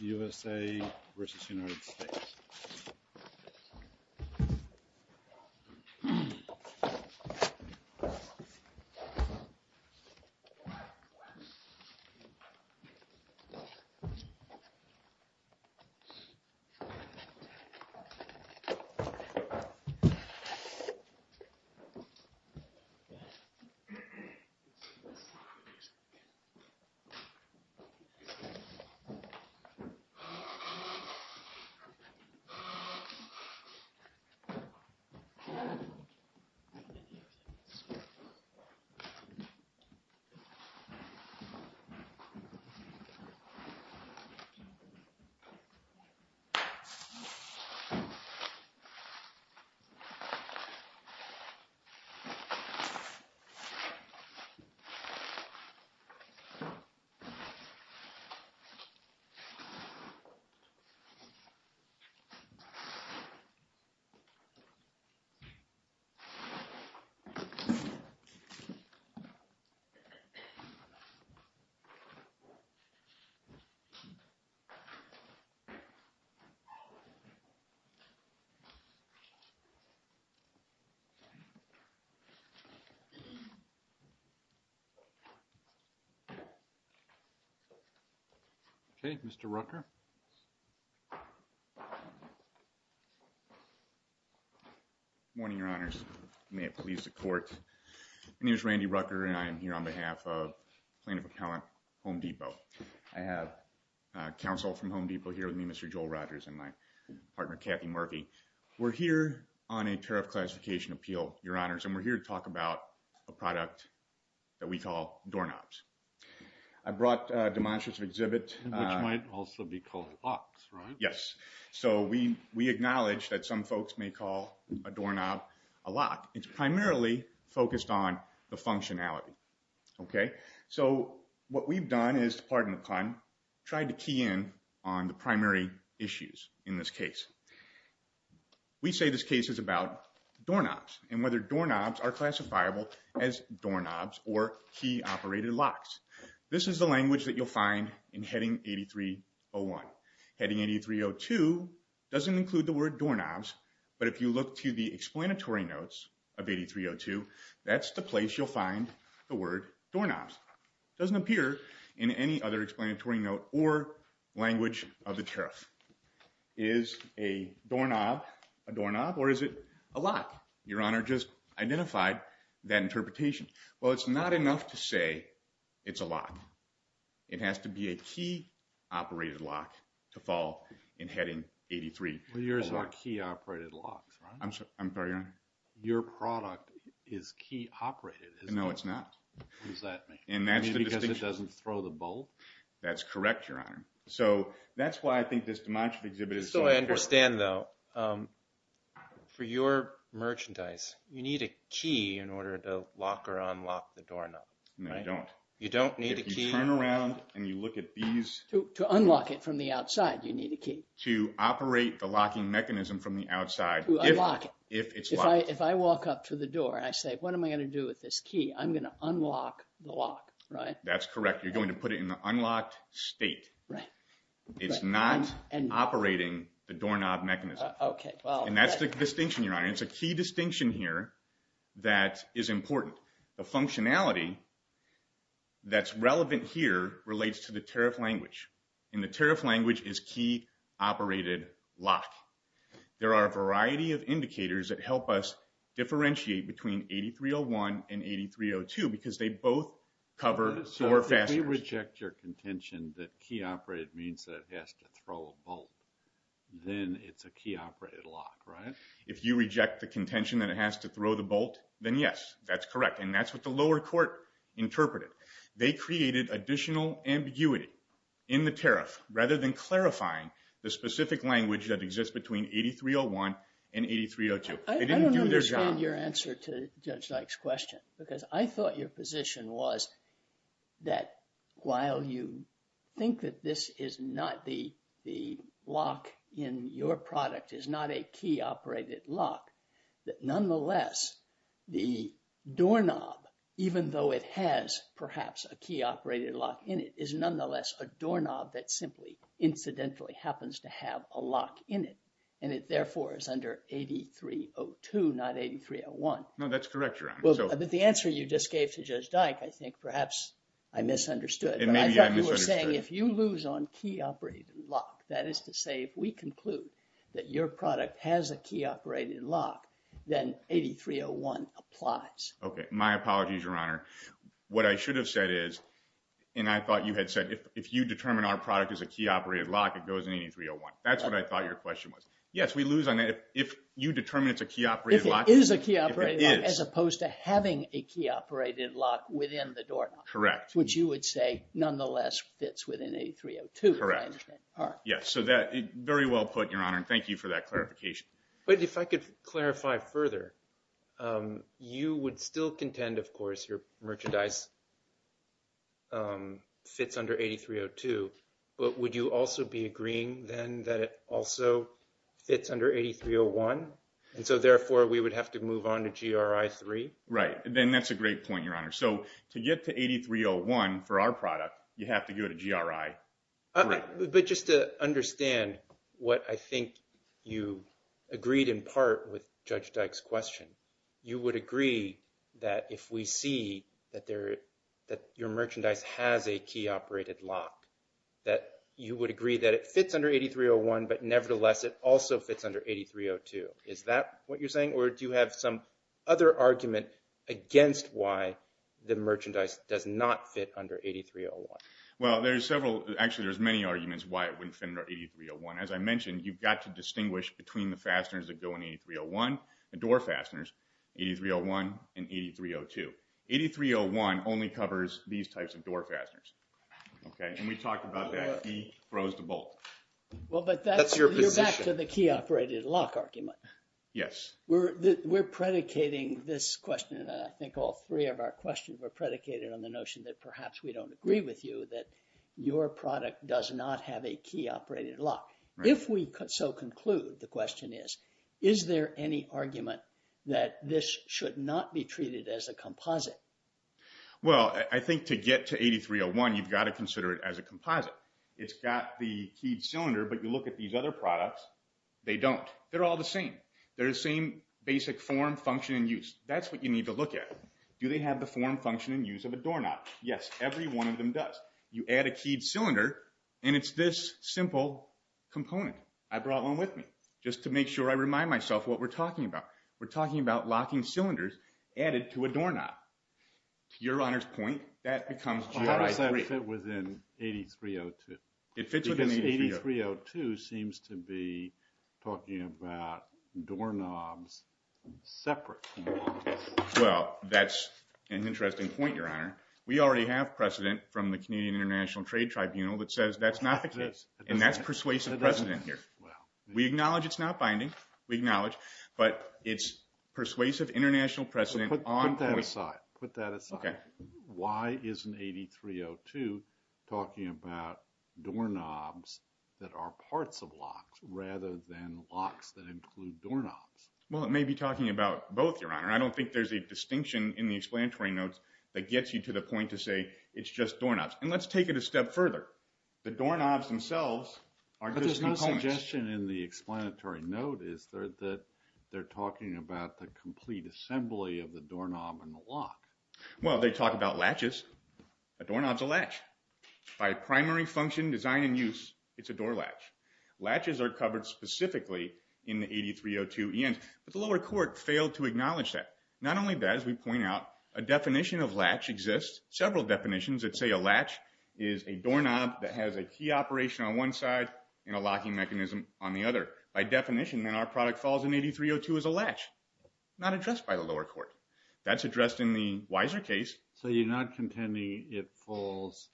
U.S.A. v. United States U.S.A. v. United States Good morning, your honors retourno My name is Randy Rucker, and I am here on behalf of Plaintiff Appellant, home Depot. I have counsel from home Depot here with me Mr. Joel Rogers and my partner Kathy Murphy. We're here on a tariff classification appeal, your honors, and we're here to talk about a product that we call DORNOPs. I brought demonstrative exhibit, which might also be called locks, right? Yes, so we we acknowledge that some folks may call a doorknob a lock. It's primarily focused on the functionality. Ok, so what we've done is, pardon the pun, tried to key in on the primary issues in this case. We say this case is about doorknobs and whether doorknobs are operated locks. This is the language that you'll find in heading 8301. Heading 8302 doesn't include the word doorknobs, but if you look to the explanatory notes of 8302, that's the place you'll find the word doorknobs. It doesn't appear in any other explanatory note or language of the tariff. Is a doorknob a doorknob, or is it a lock? Your honor just identified that today, it's a lock. It has to be a key-operated lock to fall in heading 8301. Yours are key-operated locks, right? I'm sorry, your honor? Your product is key-operated, is it not? No, it's not. What does that mean? Because it doesn't throw the bolt? That's correct, your honor. So that's why I think this demonstrative exhibit is so important. So I understand though, for your merchandise, you need a key in order to lock or unlock the doorknob, right? No, I don't. You don't need a key? If you turn around and you look at these... To unlock it from the outside, you need a key. To operate the locking mechanism from the outside, if it's locked. If I walk up to the door, I say, what am I going to do with this key? I'm going to unlock the lock, right? That's correct. You're going to put it in the unlocked state. Right. It's not operating the doorknob mechanism. Okay, well... And that's the distinction, your honor. It's a key functionality that's relevant here, relates to the tariff language. And the tariff language is key-operated lock. There are a variety of indicators that help us differentiate between 8301 and 8302, because they both cover door fasteners. So if you reject your contention that key-operated means that it has to throw a bolt, then it's a key-operated lock, right? If you reject the contention that it has to throw the bolt, then yes, that's correct. And that's what the lower court interpreted. They created additional ambiguity in the tariff, rather than clarifying the specific language that exists between 8301 and 8302. I don't understand your answer to Judge Dyke's question, because I thought your position was that while you think that this is not the lock in your product, is not a key-operated lock, nonetheless, the doorknob, even though it has perhaps a key-operated lock in it, is nonetheless a doorknob that simply incidentally happens to have a lock in it. And it therefore is under 8302, not 8301. No, that's correct, your honor. Well, but the answer you just gave to Judge Dyke, I think perhaps I misunderstood. And maybe I misunderstood. But I thought you were saying, if you lose on key-operated lock, that is to say, if we conclude that your product has a key-operated lock, then 8301 applies. Okay. My apologies, your honor. What I should have said is, and I thought you had said, if you determine our product is a key-operated lock, it goes in 8301. That's what I thought your question was. Yes, we lose on that. If you determine it's a key-operated lock- If it is a key-operated lock- If it is. As opposed to having a key-operated lock within the doorknob. Correct. Which you would say, nonetheless, fits within 8302. Correct. Yes. So that, very well put, your honor. And thank you for that clarification. But if I could clarify further, you would still contend, of course, your merchandise fits under 8302. But would you also be agreeing then that it also fits under 8301? And so therefore, we would have to move on to GRI 3? Right. And that's a great point, your honor. So to get to 8301 for our product, you have to go to GRI 3. But just to understand what I think you agreed in part with Judge Dyke's question, you would agree that if we see that your merchandise has a key-operated lock, that you would agree that it fits under 8301, but nevertheless, it also fits under 8302. Is that what you're saying? Or do you have some other argument against why the merchandise does not fit under 8301? Well, there's several. Actually, there's many arguments why it wouldn't fit under 8301. As I mentioned, you've got to distinguish between the fasteners that go in 8301, the door fasteners, 8301, and 8302. 8301 only covers these types of door fasteners. Okay? And we talked about that. He froze to bolt. That's your position. Well, but you're back to the key-operated lock argument. Yes. We're predicating this question. I think all three of our questions were predicated on the notion that perhaps we don't agree with you that your product does not have a key-operated lock. If we so conclude, the question is, is there any argument that this should not be treated as a composite? Well, I think to get to 8301, you've got to consider it as a composite. It's got the keyed cylinder, but you look at these other products, they don't. They're all the same. They're the same basic form, function, and use. That's what you need to look at. Do they have the form, function, and use of a doorknob? Yes. Every one of them does. You add a keyed cylinder, and it's this simple component. I brought one with me just to make sure I remind myself what we're talking about. We're talking about locking cylinders added to a doorknob. To your Honor's point, that becomes GRI 3. Well, how does that fit within 8302? It fits within 8302. Because 8302 seems to be talking about doorknobs separate from locks. Well, that's an interesting point, your Honor. We already have precedent from the Canadian International Trade Tribunal that says that's not the case, and that's persuasive precedent here. We acknowledge it's not binding. We acknowledge, but it's persuasive international precedent. Put that aside. Why isn't 8302 talking about doorknobs that are parts of locks rather than locks that include doorknobs? Well, it may be talking about both, your Honor. I don't think there's a distinction in the explanatory notes that gets you to the point to say it's just doorknobs. And let's take it a step further. The doorknobs themselves are just components. But there's no suggestion in the explanatory note, is there, that they're talking about the complete assembly of the doorknob and the lock. Well, they talk about latches. A doorknob's a latch. By primary function, design, and use, it's a door latch. Latches are covered specifically in the 8302 ENs, but the lower court failed to acknowledge that. Not only that, as we point out, a definition of latch exists. Several definitions that say a latch is a doorknob that has a key operation on one side and a locking mechanism on the other. By definition, then our product falls in 8302 as a latch. Not addressed by the lower court. That's addressed in the wiser case. So you're not contending it falls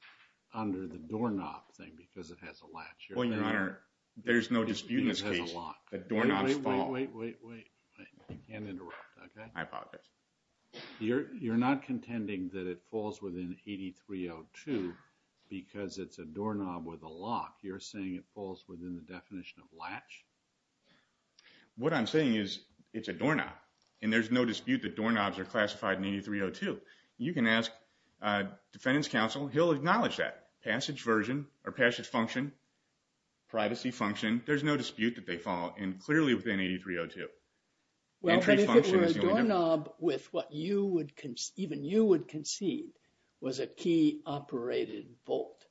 under the doorknob thing because it has a latch? Well, your Honor, there's no dispute in this case that doorknobs fall. Wait, wait, wait, wait, wait. You can't that it falls within 8302 because it's a doorknob with a lock. You're saying it falls within the definition of latch? What I'm saying is it's a doorknob, and there's no dispute that doorknobs are classified in 8302. You can ask defendant's counsel. He'll acknowledge that. Passage version, or passage function, privacy function, there's no dispute that they fall in clearly within 8302. Well, but if it were a doorknob with what you would, even you would concede was a key operated bolt,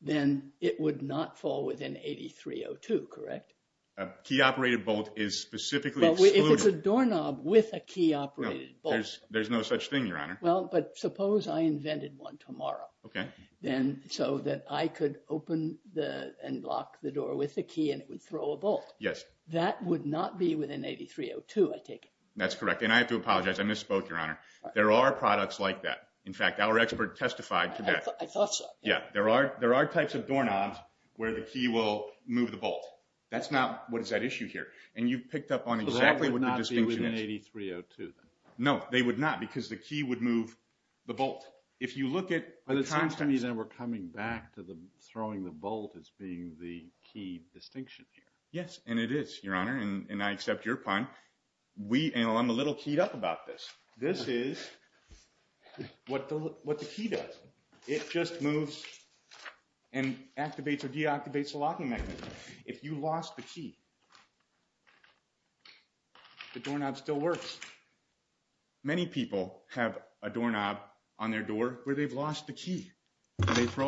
then it would not fall within 8302, correct? A key operated bolt is specifically excluded. Well, if it's a doorknob with a key operated bolt. There's no such thing, your Honor. Well, but suppose I invented one tomorrow. Okay. Then so that I could open the and lock the door with a key and it would throw a bolt. Yes. That would not be within 8302, I take it? That's correct. And I have to apologize. I misspoke, your Honor. There are products like that. In fact, our expert testified to that. I thought so. Yeah. There are types of doorknobs where the key will move the bolt. That's not what is at issue here. And you've picked up on exactly what the distinction is. But that would not be within 8302 then? No, they would not because the key would move the bolt. If you look at- It seems to me that we're coming back to the throwing the bolt as being the key distinction here. Yes, and it is, your Honor. And I accept your pun. I'm a little keyed up about this. This is what the key does. It just moves and activates or deactivates the locking mechanism. If you lost the key, did they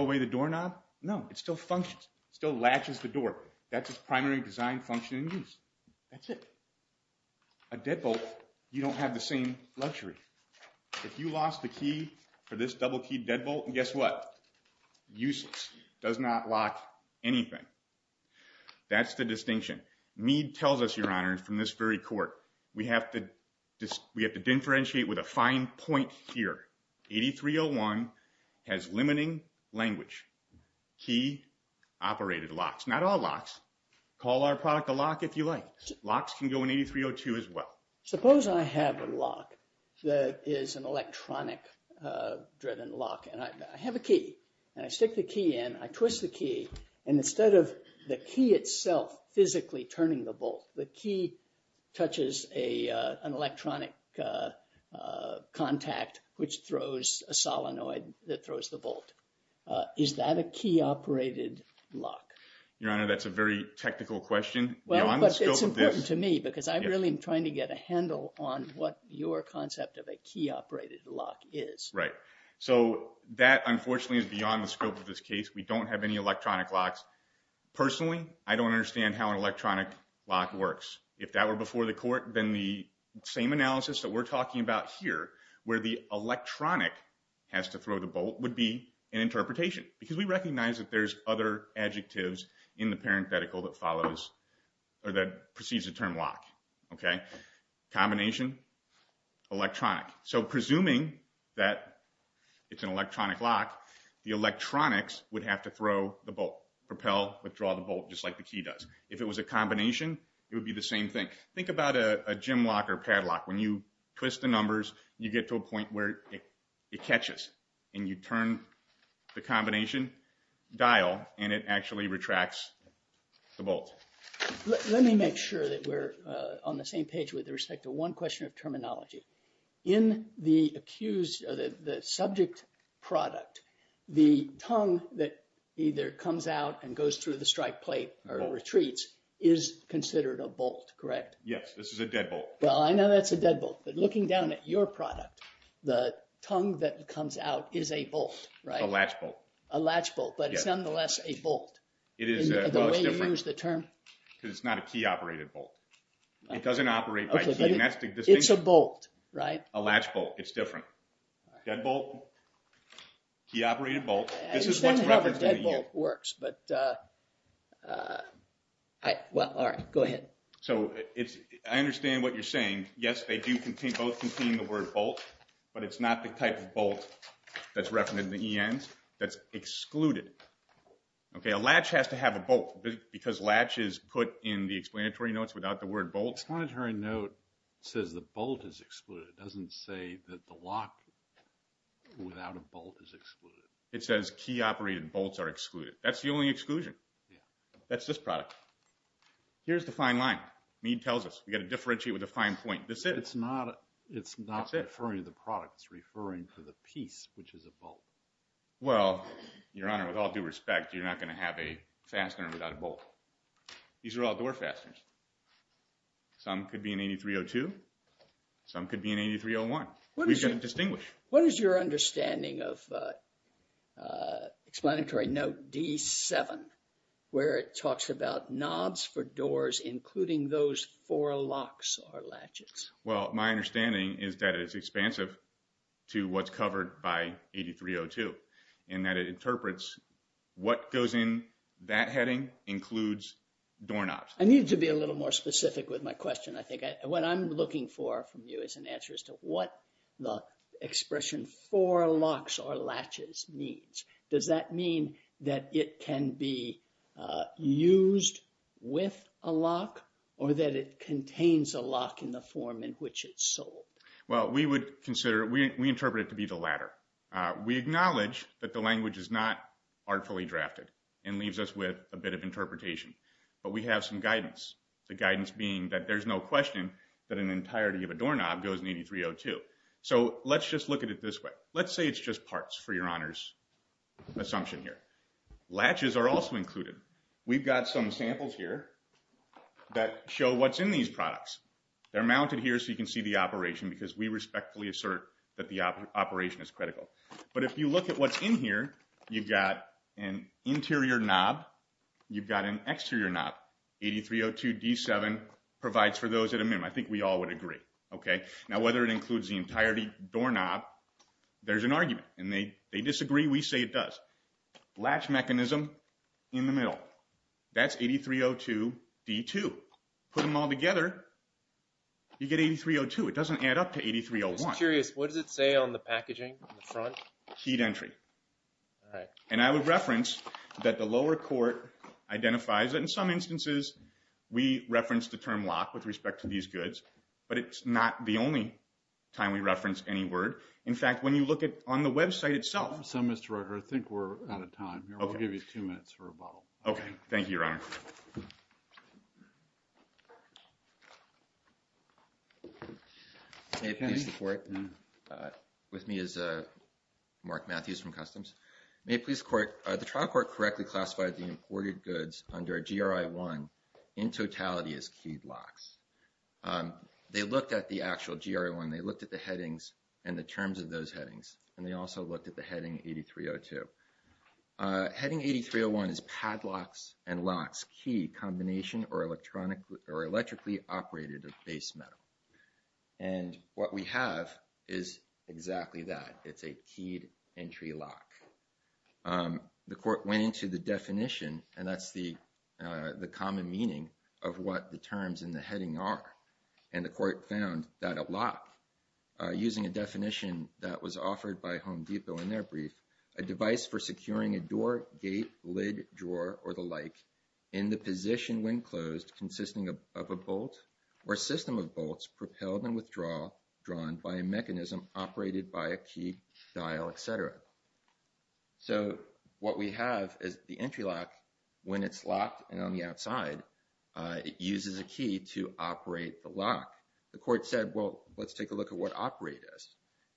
throw away the doorknob? No. It still functions. It still latches the door. That's its primary design function and use. That's it. A deadbolt, you don't have the same luxury. If you lost the key for this double-keyed deadbolt, guess what? Useless. Does not lock anything. That's the distinction. Mead tells us, your Honor, from this very court, we have to differentiate with a fine point here. 8301 has limiting language. Key-operated locks. Not all locks. Call our product a lock if you like. Locks can go in 8302 as well. Suppose I have a lock that is an electronic-driven lock. And I have a key. And I stick the key in. I twist the key. And instead of the key itself physically turning the bolt, the key touches an electronic contact, which throws a solenoid that throws the bolt. Is that a key-operated lock? Your Honor, that's a very technical question. Well, but it's important to me because I really am trying to get a handle on what your concept of a key-operated lock is. Right. So that, unfortunately, is beyond the scope of this case. We don't have any electronic locks. Personally, I don't understand how an electronic lock works. If that were before the court, then the same analysis that we're talking about here, where the electronic has to throw the bolt, would be an interpretation. Because we recognize that there's other adjectives in the parenthetical that precedes the term lock. Combination, electronic. So presuming that it's an electronic lock, the electronics would have to throw the bolt. Propel, withdraw the bolt, just like the key does. If it was a combination, it would be the same thing. Think about a gym lock or padlock. When you twist the numbers, you get to a point where it catches. And you turn the combination dial, and it actually retracts the bolt. Let me make sure that we're on the same page with respect to one question of terminology. In the subject product, the tongue that either comes out and goes through the strike plate or retreats is considered a bolt, correct? Yes, this is a deadbolt. Well, I know that's a deadbolt. But looking down at your product, the tongue that comes out is a bolt, right? It's a latch bolt. A latch bolt, but it's nonetheless a bolt. Is that the way you use the term? Because it's not a key-operated bolt. It doesn't operate by key. It's a bolt, right? A latch bolt. It's different. Deadbolt, key-operated bolt. I understand how the deadbolt works, but go ahead. I understand what you're saying. Yes, they do both contain the word bolt, but it's not the type of bolt that's referenced in the ENs that's excluded. A latch has to have a bolt, because latch is put in the explanatory notes without the word bolt. The explanatory note says the bolt is excluded. It doesn't say that the lock without a bolt is excluded. It says key-operated bolts are excluded. That's the only exclusion. That's this product. Here's the fine line. Mead tells us we've got to differentiate with a fine point. That's it. It's not referring to the product. It's referring to the piece, which is a bolt. Well, Your Honor, with all due respect, you're not going to have a fastener without a bolt. These are all door fasteners. Some could be in 8302. Some could be in 8301. We've got to distinguish. What is your understanding of explanatory note D7, where it talks about knobs for doors, including those four locks or latches? Well, my understanding is that it's expansive to what's covered by 8302, in that it interprets what goes in that heading includes doorknobs. I need to be a little more specific with my question. I think what I'm looking for from you is an answer as to what the expression four locks or latches means. Does that mean that it can be used with a lock, or that it contains a lock in the form in which it's sold? Well, we would consider it. We interpret it to be the latter. We acknowledge that the language is not artfully drafted and leaves us with a bit of interpretation, but we have some guidance. The guidance being that there's no question that an entirety of a doorknob goes in 8302. So let's just look at it this way. Let's say it's just parts for Your Honor's assumption here. Latches are also included. We've got some samples here that show what's in these products. They're mounted here so you can see the operation, because we respectfully assert that the operation is critical. But if you look at what's in here, you've got an interior knob. You've got an exterior knob. 8302 D7 provides for those at a minimum. I think we all would agree, okay? Now, whether it includes the entirety doorknob, there's an argument, and they disagree. We say it does. Latch mechanism in the middle. That's 8302 D2. Put them all together, you get 8302. It doesn't add up to 8301. I'm curious. What does it say on the packaging on the front? Keyed entry. All right. And I would reference that the lower court identifies that in some instances we reference the term lock with respect to these goods, but it's not the only time we reference any word. In fact, when you look at on the website itself. So, Mr. Rutter, I think we're out of time here. We'll give you two minutes for a bottle. Okay. Thank you, Your Honor. May it please the court. With me is Mark Matthews from Customs. May it please the court. The trial court correctly classified the imported goods under a GRI-1 in totality as keyed locks. They looked at the actual GRI-1. They looked at the headings and the terms of those headings, and they also looked at the heading 8302. Heading 8301 is padlocks and locks, key combination or electrically operated base metal. And what we have is exactly that. It's a keyed entry lock. The court went into the definition, and that's the common meaning of what the terms in the heading are. And the court found that a lock, using a definition that was offered by Home Depot in their brief, a device for securing a door, gate, lid, drawer or the like in the position when closed consisting of a bolt or a system of bolts propelled and withdrawn by a mechanism operated by a key, dial, etc. So what we have is the entry lock, when it's locked and on the outside, it uses a key to operate the lock. The court said, well, let's take a look at what operate is.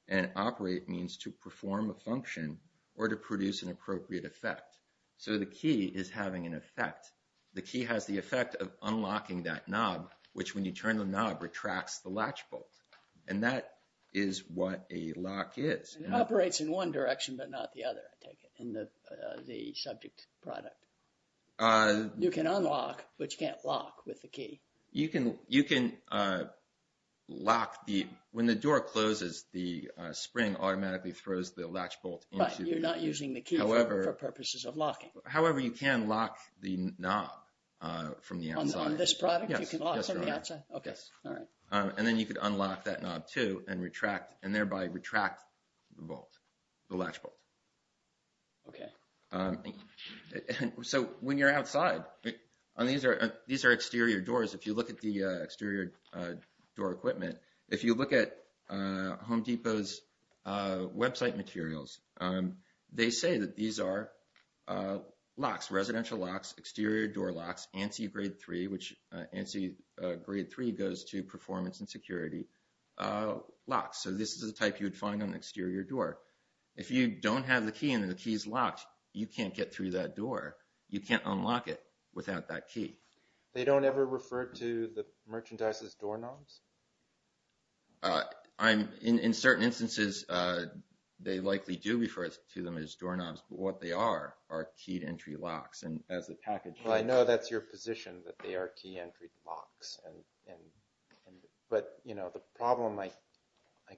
And operate means to perform a function or to produce an appropriate effect. So the key is having an effect. The key has the effect of unlocking that knob, which when you turn the knob retracts the latch bolt. And that is what a lock is. And it operates in one direction, but not the other, I take it, in the subject product. You can unlock, but you can't lock with the key. You can lock the... When the door closes, the spring automatically throws the latch bolt into... But you're not using the key for purposes of locking. However, you can lock the knob from the outside. On this product, you can lock from the outside? Yes. Okay. All right. And then you could unlock that knob too and retract and thereby retract the bolt, the latch bolt. Okay. So when you're outside, these are exterior doors. If you look at the exterior door equipment, if you look at Home Depot's website materials, they say that these are locks, residential locks, exterior door locks, ANSI grade three, which ANSI grade three goes to performance and security locks. So this is the type you would find on the exterior door. If you don't have the key and the key's locked, you can't get through that door. You can't unlock it without that key. They don't ever refer to the merchandise as door knobs? In certain instances, they likely do refer to them as door knobs, but what they are, are keyed entry locks. And as a package... Well, I know that's your position, that they are key entry locks. But the problem I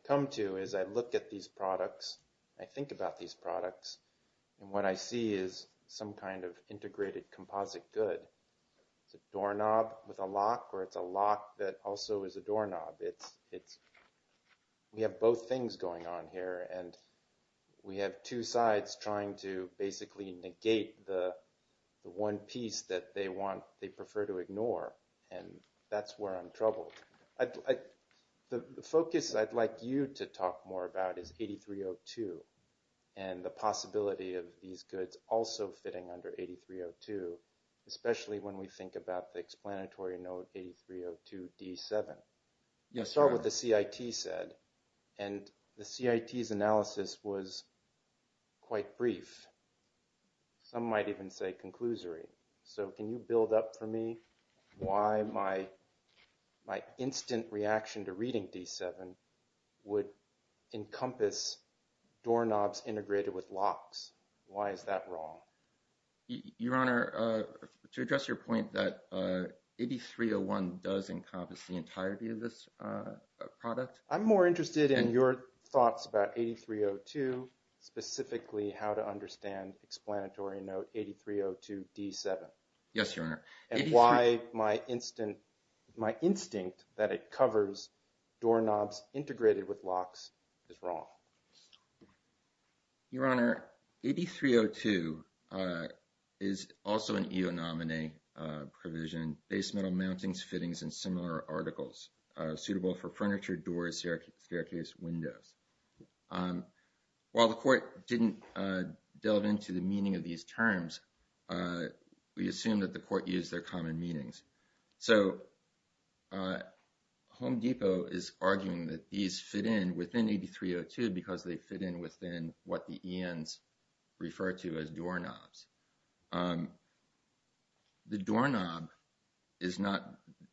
come to is I look at these products, I think about these products, and what I see is some kind of integrated composite good. It's a door knob with a lock, or it's a lock that also is a door knob. We have both things going on here, and we have two sides trying to basically negate the one piece that they prefer to ignore, and that's where I'm troubled. The focus I'd like you to talk more about is 8302, and the possibility of these goods also fitting under 8302, especially when we think about the explanatory note 8302-D7. Yeah, start with what the CIT said, and the CIT's analysis was quite brief. Some might even say conclusory. So can you build up for me why my instant reaction to reading D7 would encompass door knobs integrated with locks? Why is that wrong? Your Honor, to address your point that 8301 does encompass the entirety of this product. I'm more interested in your thoughts about 8302, specifically how to understand explanatory note 8302-D7. Yes, Your Honor. And why my instinct that it covers door knobs integrated with locks is wrong. Your Honor, 8302 is also an EO nominee provision, base metal mountings, fittings, and similar articles suitable for furniture, doors, staircase, windows. While the court didn't delve into the meaning of these terms, we assume that the court used their common meanings. So Home Depot is arguing that these fit in within 8302 because they fit in within what the ENs refer to as door knobs. The door knob is not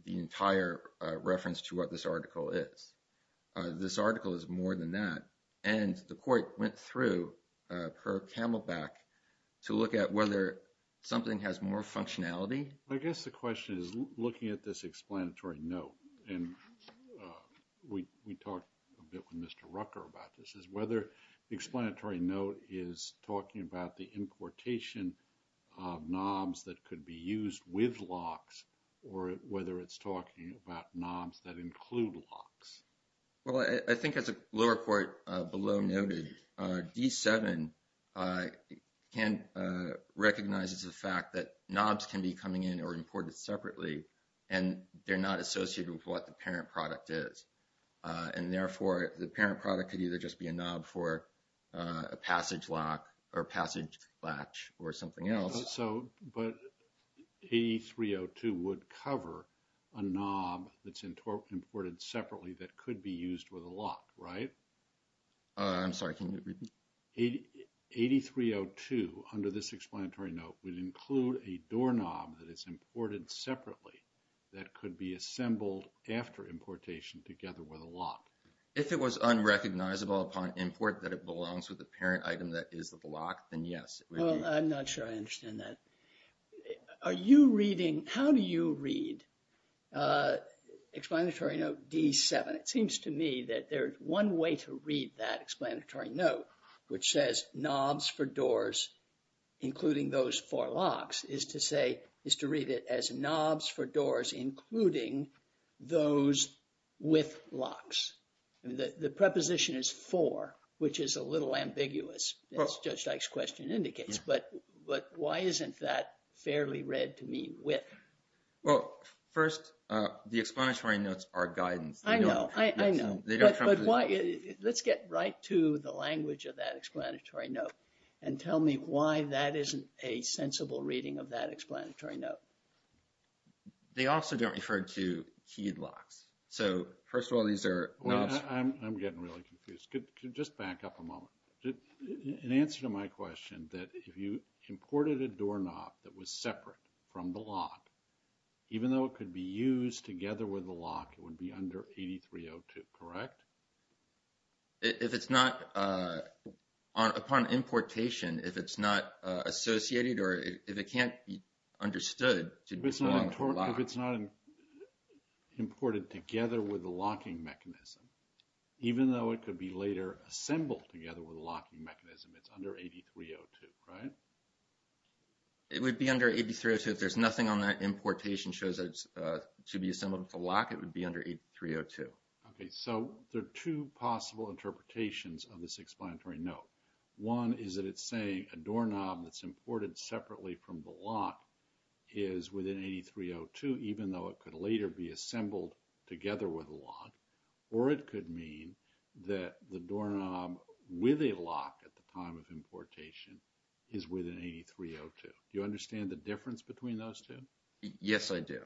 the entire reference to what this article is. This article is more than that. And the court went through per CamelBak to look at whether something has more functionality. I guess the question is looking at this explanatory note. And we talked a bit with Mr. Rucker about this, is whether the explanatory note is talking about the importation of knobs that could be used with locks or whether it's talking about knobs that include locks. Well, I think as a lower court below noted, D7 recognizes the fact that knobs can be coming in or imported separately. And they're not associated with what the parent product is. And therefore the parent product could either just be a knob for a passage lock or passage latch or something else. So, but 8302 would cover a knob that's imported separately that could be used with a lock, right? I'm sorry, can you repeat? 8302 under this explanatory note would include a door knob that is imported separately that could be assembled after importation together with a lock. If it was unrecognizable upon import that it belongs with the parent item that is the lock, then yes. Well, I'm not sure I understand that. Are you reading, how do you read explanatory note D7? It seems to me that there's one way to read that explanatory note which says knobs for doors, including those four locks is to read it as knobs for doors, including those with locks. The preposition is for, which is a little ambiguous as Judge Dyke's question indicates. But why isn't that fairly read to mean with? Well, first the explanatory notes are guidance. I know, I know. Let's get right to the language of that explanatory note and tell me why that isn't a sensible reading of that explanatory note. They also don't refer to keyed locks. So, first of all, these are. I'm getting really confused. Just back up a moment. In answer to my question that if you imported a door knob that was separate from the lock, even though it could be used together with the lock, it would be under 8302, correct? If it's not, upon importation, if it's not associated or if it can't be understood. If it's not imported together with the locking mechanism, even though it could be later assembled together with a locking mechanism, it's under 8302, right? It would be under 8302 if there's nothing on that importation shows that it's to be assembled with a lock, it would be under 8302. Okay. So, there are two possible interpretations of this explanatory note. One is that it's saying a door knob that's imported separately from the lock is within 8302, even though it could later be assembled together with a lock, or it could mean that the door knob with a lock at the time of importation is within 8302. Do you understand the difference between those two? Yes, I do.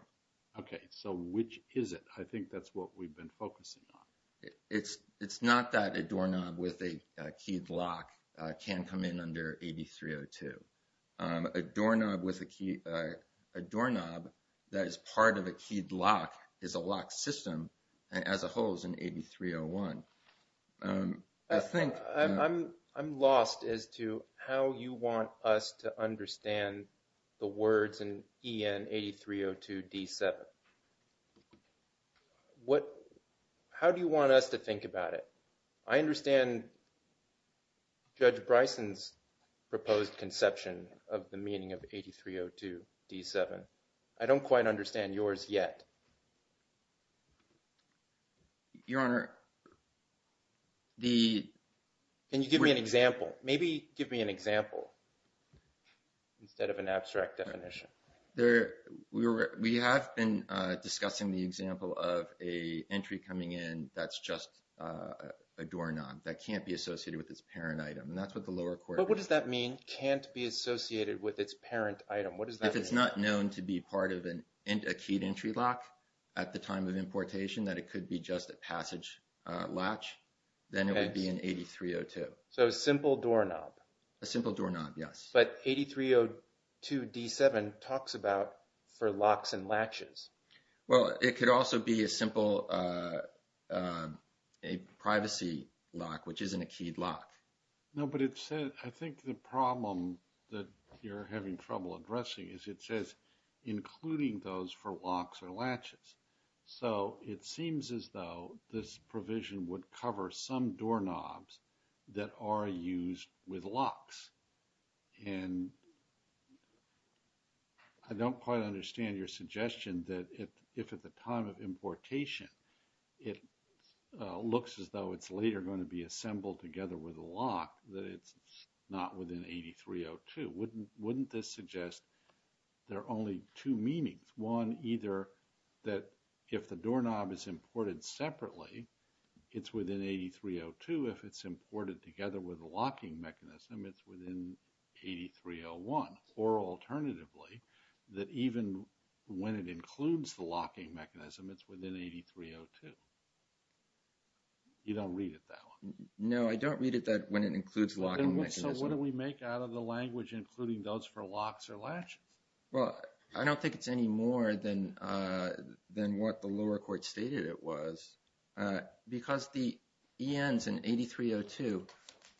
Okay. So, which is it? I think that's what we've been focusing on. It's not that a doorknob with a keyed lock can come in under 8302. A doorknob with a key, a doorknob that is part of a keyed lock is a lock system as a whole is in 8301. I think... I'm lost as to how you want us to understand the words in EN 8302 D7. What... How do you want us to think about it? I understand Judge Bryson's proposed conception of the meaning of 8302 D7. I don't quite understand yours yet. Your Honor, the... Can you give me an example? Maybe give me an example instead of an abstract definition. There... We have been discussing the example of a entry coming in that's just a doorknob that can't be associated with its parent item. And that's what the lower court... But what does that mean, can't be associated with its parent item? What does that mean? If it's not known to be part of a keyed entry lock at the time of importation, that it could be just a passage latch, then it would be in 8302. So, a simple doorknob. A simple doorknob, yes. But 8302 D7 talks about for locks and latches. Well, it could also be a simple... A privacy lock, which isn't a keyed lock. No, but it says... I think the problem that you're having trouble addressing is it says, including those for locks or latches. So, it seems as though this provision would cover some doorknobs that are used with locks. And I don't quite understand your suggestion that if at the time of importation, it looks as though it's later going to be assembled together with a lock, that it's not within 8302. Wouldn't this suggest there are only two meanings? One, either that if the doorknob is imported separately, it's within 8302. If it's imported together with a locking mechanism, it's within 8301. Or alternatively, that even when it includes the locking mechanism, it's within 8302. You don't read it that way. No, I don't read it that when it includes locking mechanism. So, what do we make out of the language including those for locks or latches? Well, I don't think it's any more than what the lower court stated it was. Because the ENs in 8302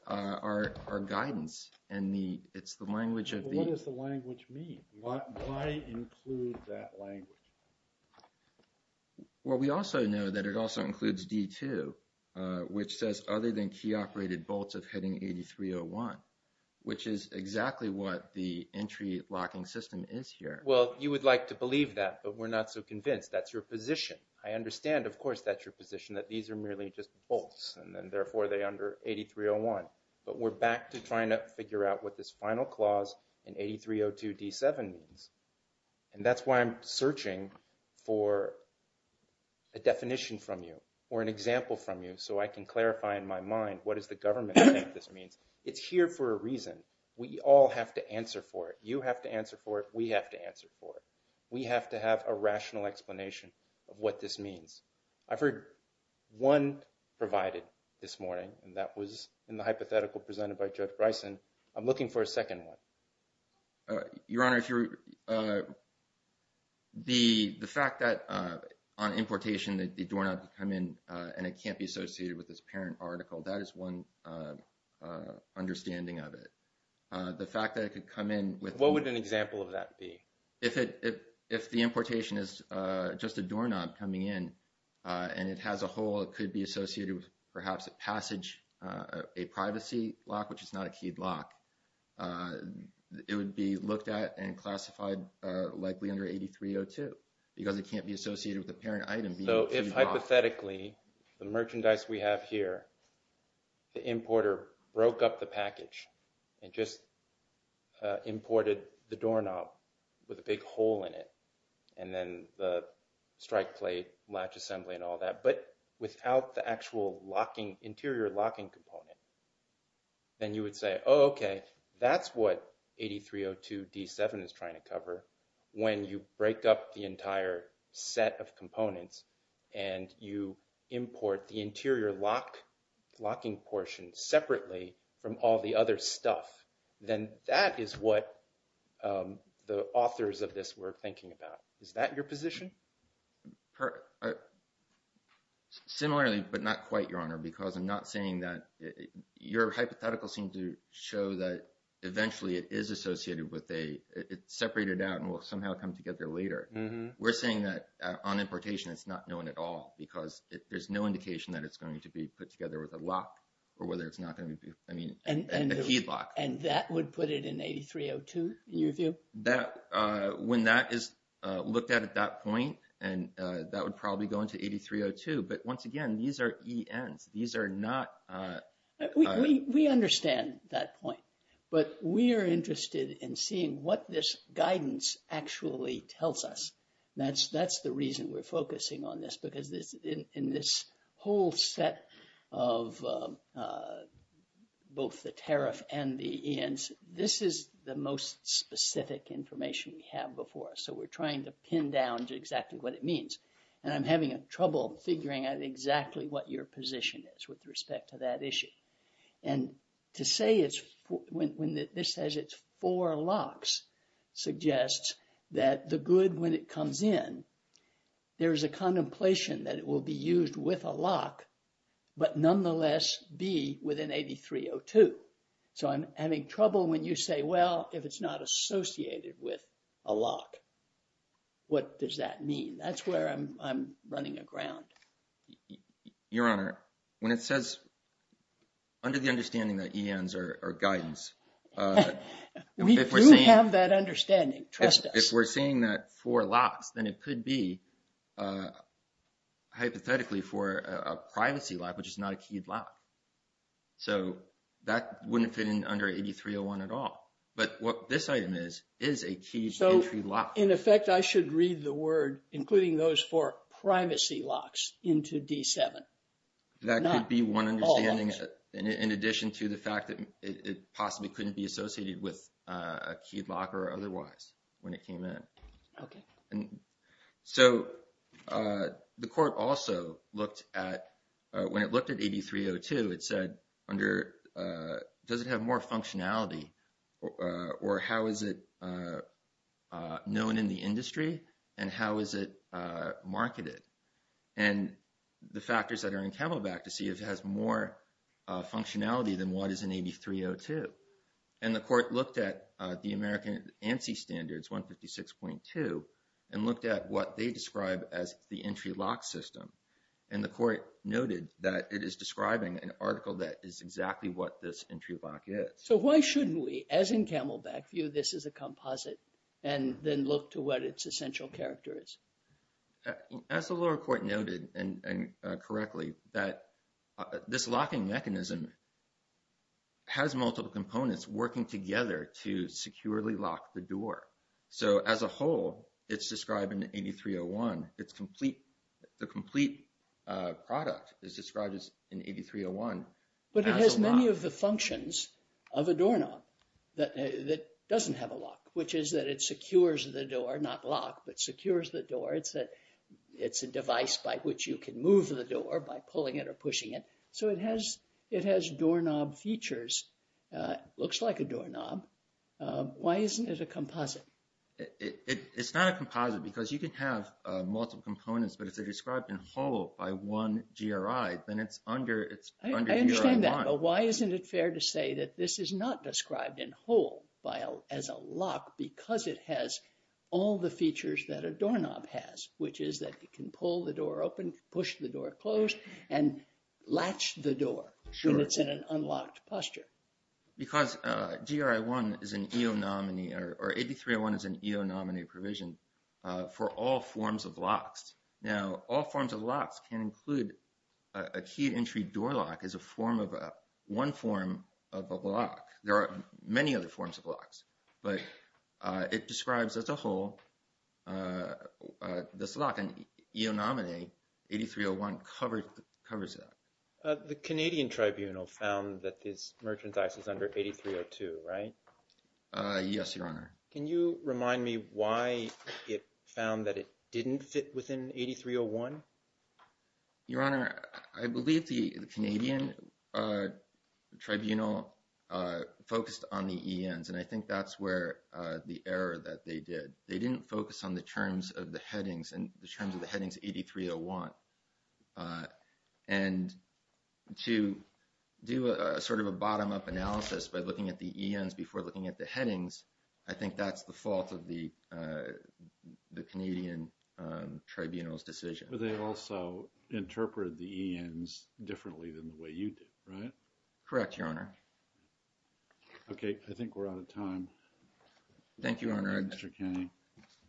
are guidance. And it's the language of the... What does the language mean? Why include that language? Well, we also know that it also includes D2, which says other than key operated bolts of heading 8301, which is exactly what the entry locking system is here. Well, you would like to believe that, but we're not so convinced. That's your position. I understand. Of course, that's your position that these are merely just bolts. And then therefore, they under 8301. But we're back to trying to figure out what this final clause in 8302 D7 means. And that's why I'm searching for a definition from you or an example from you. So, I can clarify in my mind, what does the government think this means? It's here for a reason. We all have to answer for it. You have to answer for it. We have to answer for it. We have to have a rational explanation of what this means. I've heard one provided this morning, and that was in the hypothetical presented by Judge Bryson. I'm looking for a second one. Your Honor, the fact that on importation, the doorknob could come in and it can't be associated with this parent article, that is one understanding of it. The fact that it could come in with... What would an example of that be? If the importation is just a doorknob coming in and it has a hole, it could be associated with perhaps a passage, a privacy lock, which is not a keyed lock. It would be looked at and classified likely under 8302 because it can't be associated with the parent item. So, if hypothetically, the merchandise we have here, the importer broke up the package and just imported the doorknob, the big hole in it, and then the strike plate latch assembly and all that, but without the actual interior locking component, then you would say, oh, okay, that's what 8302 D7 is trying to cover when you break up the entire set of components and you import the interior locking portion separately from all the other stuff. Then that is what the authors of this were thinking about. Is that your position? Similarly, but not quite, Your Honor, because I'm not saying that... Your hypothetical seemed to show that eventually it is associated with a... It's separated out and will somehow come together later. We're saying that on importation, it's not known at all because there's no indication that it's going to be put together with a lock or whether it's not going to be... I mean, a keyed lock. That would put it in 8302, in your view? When that is looked at at that point, and that would probably go into 8302, but once again, these are ENs. These are not... We understand that point, but we are interested in seeing what this guidance actually tells us. That's the reason we're focusing on this because in this whole set of both the tariff and the ENs, this is the most specific information we have before us. So we're trying to pin down exactly what it means. And I'm having trouble figuring out exactly what your position is with respect to that issue. And to say it's... When this says it's four locks, suggests that the good, when it comes in, there is a contemplation that it will be used with a lock, but nonetheless be within 8302. So I'm having trouble when you say, well, if it's not associated with a lock, what does that mean? That's where I'm running aground. Your Honor, when it says... Under the understanding that ENs are guidance... We do have that understanding, trust us. If we're seeing that four locks, then it could be hypothetically for a privacy lock, which is not a keyed lock. So that wouldn't fit in under 8301 at all. But what this item is, is a keyed entry lock. In effect, I should read the word, including those four privacy locks into D7. That could be one understanding in addition to the fact that it possibly couldn't be associated with a keyed lock or otherwise when it came in. Okay. So the court also looked at... When it looked at 8302, it said under... Does it have more functionality or how is it known in the industry and how is it marketed? And the factors that are in Camelback to see if it has more functionality than what is in 8302. And the court looked at the American ANSI standards 156.2 and looked at what they describe as the entry lock system. And the court noted that it is describing an article that is exactly what this entry lock is. So why shouldn't we, as in Camelback view, this is a composite and then look to what its essential character is? As the lower court noted and correctly, that this locking mechanism has multiple components working together to securely lock the door. So as a whole, it's described in 8301. The complete product is described in 8301. But it has many of the functions of a doorknob that doesn't have a lock, which is that it secures the door, not lock, but secures the door. It's a device by which you can move the door by pulling it or pushing it. So it has doorknob features. Looks like a doorknob. Why isn't it a composite? It's not a composite because you can have multiple components, but if they're described in whole by one GRI, then it's under GRI one. I understand that, but why isn't it fair to say that this is not described in whole as a lock because it has all the features that a doorknob has, which is that it can pull the door open, push the door closed, and latch the door when it's in an unlocked posture? Because GRI one is an EONOMINE, or 8301 is an EONOMINE provision for all forms of locks. Now, all forms of locks can include a keyed entry door lock as a form of one form of a lock. There are many other forms of locks, but it describes as a whole this lock. EONOMINE 8301 covers that. The Canadian Tribunal found that this merchandise is under 8302, right? Yes, Your Honor. Can you remind me why it found that it didn't fit within 8301? Your Honor, I believe the Canadian Tribunal focused on the ENs, and I think that's where the error that they did. They didn't focus on the terms of the headings and the terms of the headings 8301. And to do a sort of a bottom-up analysis by looking at the ENs before looking at the headings, I think that's the fault of the Canadian Tribunal's decision. But they also interpreted the ENs differently than the way you did, right? Correct, Your Honor. Okay, I think we're out of time. Thank you, Your Honor. Thank you, Mr. Kenney.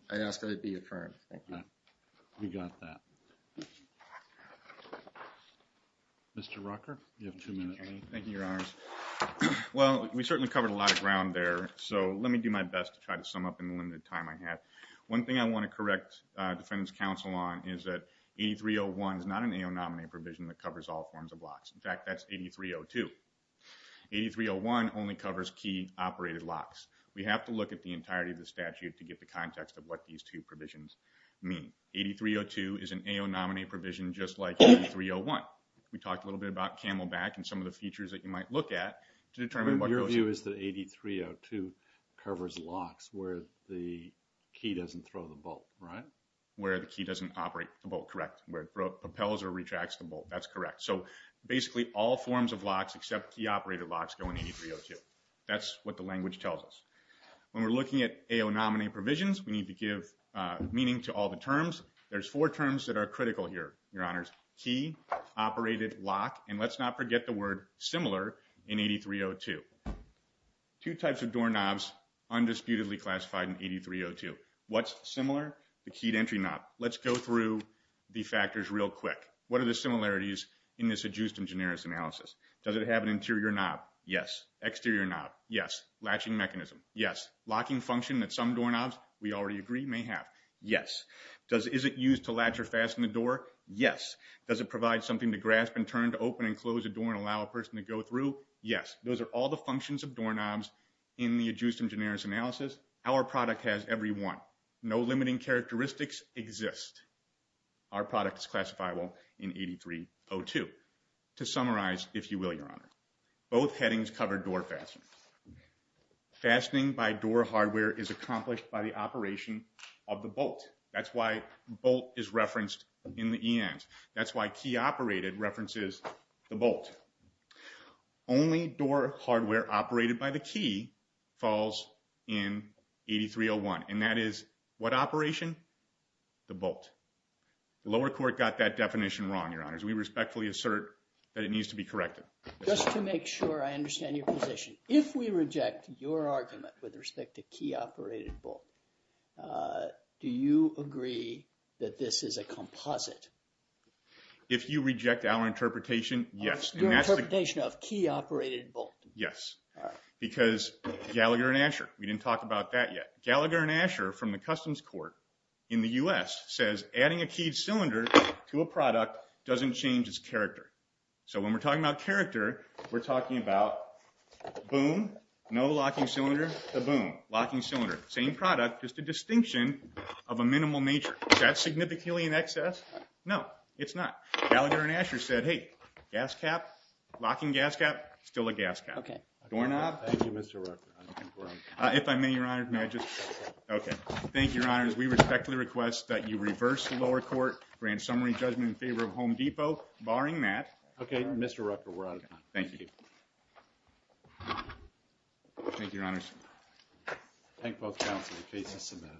I ask that it be affirmed. Okay, we got that. Mr. Rucker, you have two minutes. Thank you, Your Honors. Well, we certainly covered a lot of ground there, so let me do my best to try to sum up in the limited time I have. One thing I want to correct Defendant's counsel on is that 8301 is not an AO-nominated provision that covers all forms of locks. In fact, that's 8302. 8301 only covers key operated locks. We have to look at the entirety of the statute to get the context of what these two provisions mean. 8302 is an AO-nominated provision, just like 8301. We talked a little bit about Camelback and some of the features that you might look at to determine what goes... Your view is that 8302 covers locks where the key doesn't throw the bolt, right? Where the key doesn't operate the bolt, correct. Where it propels or retracts the bolt. That's correct. So basically all forms of locks except key operated locks go in 8302. That's what the language tells us. When we're looking at AO-nominated provisions, we need to give meaning to all the terms. There's four terms that are critical here, Your Honors. Key, operated, lock, and let's not forget the word similar in 8302. Two types of door knobs undisputedly classified in 8302. What's similar? The keyed entry knob. Let's go through the factors real quick. What are the similarities in this adjust in generis analysis? Does it have an interior knob? Yes. Exterior knob? Yes. Latching mechanism? Yes. Locking function that some door knobs, we already agree, may have? Yes. Is it used to latch or fasten the door? Yes. Does it provide something to grasp and turn to open and close a door and allow a person to go through? Yes. Those are all the functions of door knobs in the adjust in generis analysis. Our product has every one. No limiting characteristics exist. Our product is classifiable in 8302. To summarize, if you will, Your Honors. Both headings cover door fasteners. Fastening by door hardware is accomplished by the operation of the bolt. That's why bolt is referenced in the ENs. That's why key operated references the bolt. Only door hardware operated by the key falls in 8301. And that is what operation? The bolt. The lower court got that definition wrong, Your Honors. We respectfully assert that it needs to be corrected. Just to make sure I understand your position. If we reject your argument with respect to key operated bolt, do you agree that this is a composite? If you reject our interpretation, yes. Your interpretation of key operated bolt? Yes. Because Gallagher and Asher, we didn't talk about that yet. Gallagher and Asher from the Customs Court in the U.S. says adding a keyed cylinder to a product doesn't change its character. So when we're talking about character, we're talking about boom, no locking cylinder, boom, locking cylinder. Same product, just a distinction of a minimal nature. That's significantly in excess? No, it's not. Gallagher and Asher said, hey, gas cap, locking gas cap, still a gas cap. Okay. Doorknob. Thank you, Mr. Rucker. If I may, Your Honor, may I just? Okay. Thank you, Your Honors. We respectfully request that you reverse the lower court grand summary judgment in favor of Home Depot, barring that. Okay, Mr. Rucker, we're out of time. Thank you. Thank you, Your Honors. Thank both counsel. The case is submitted.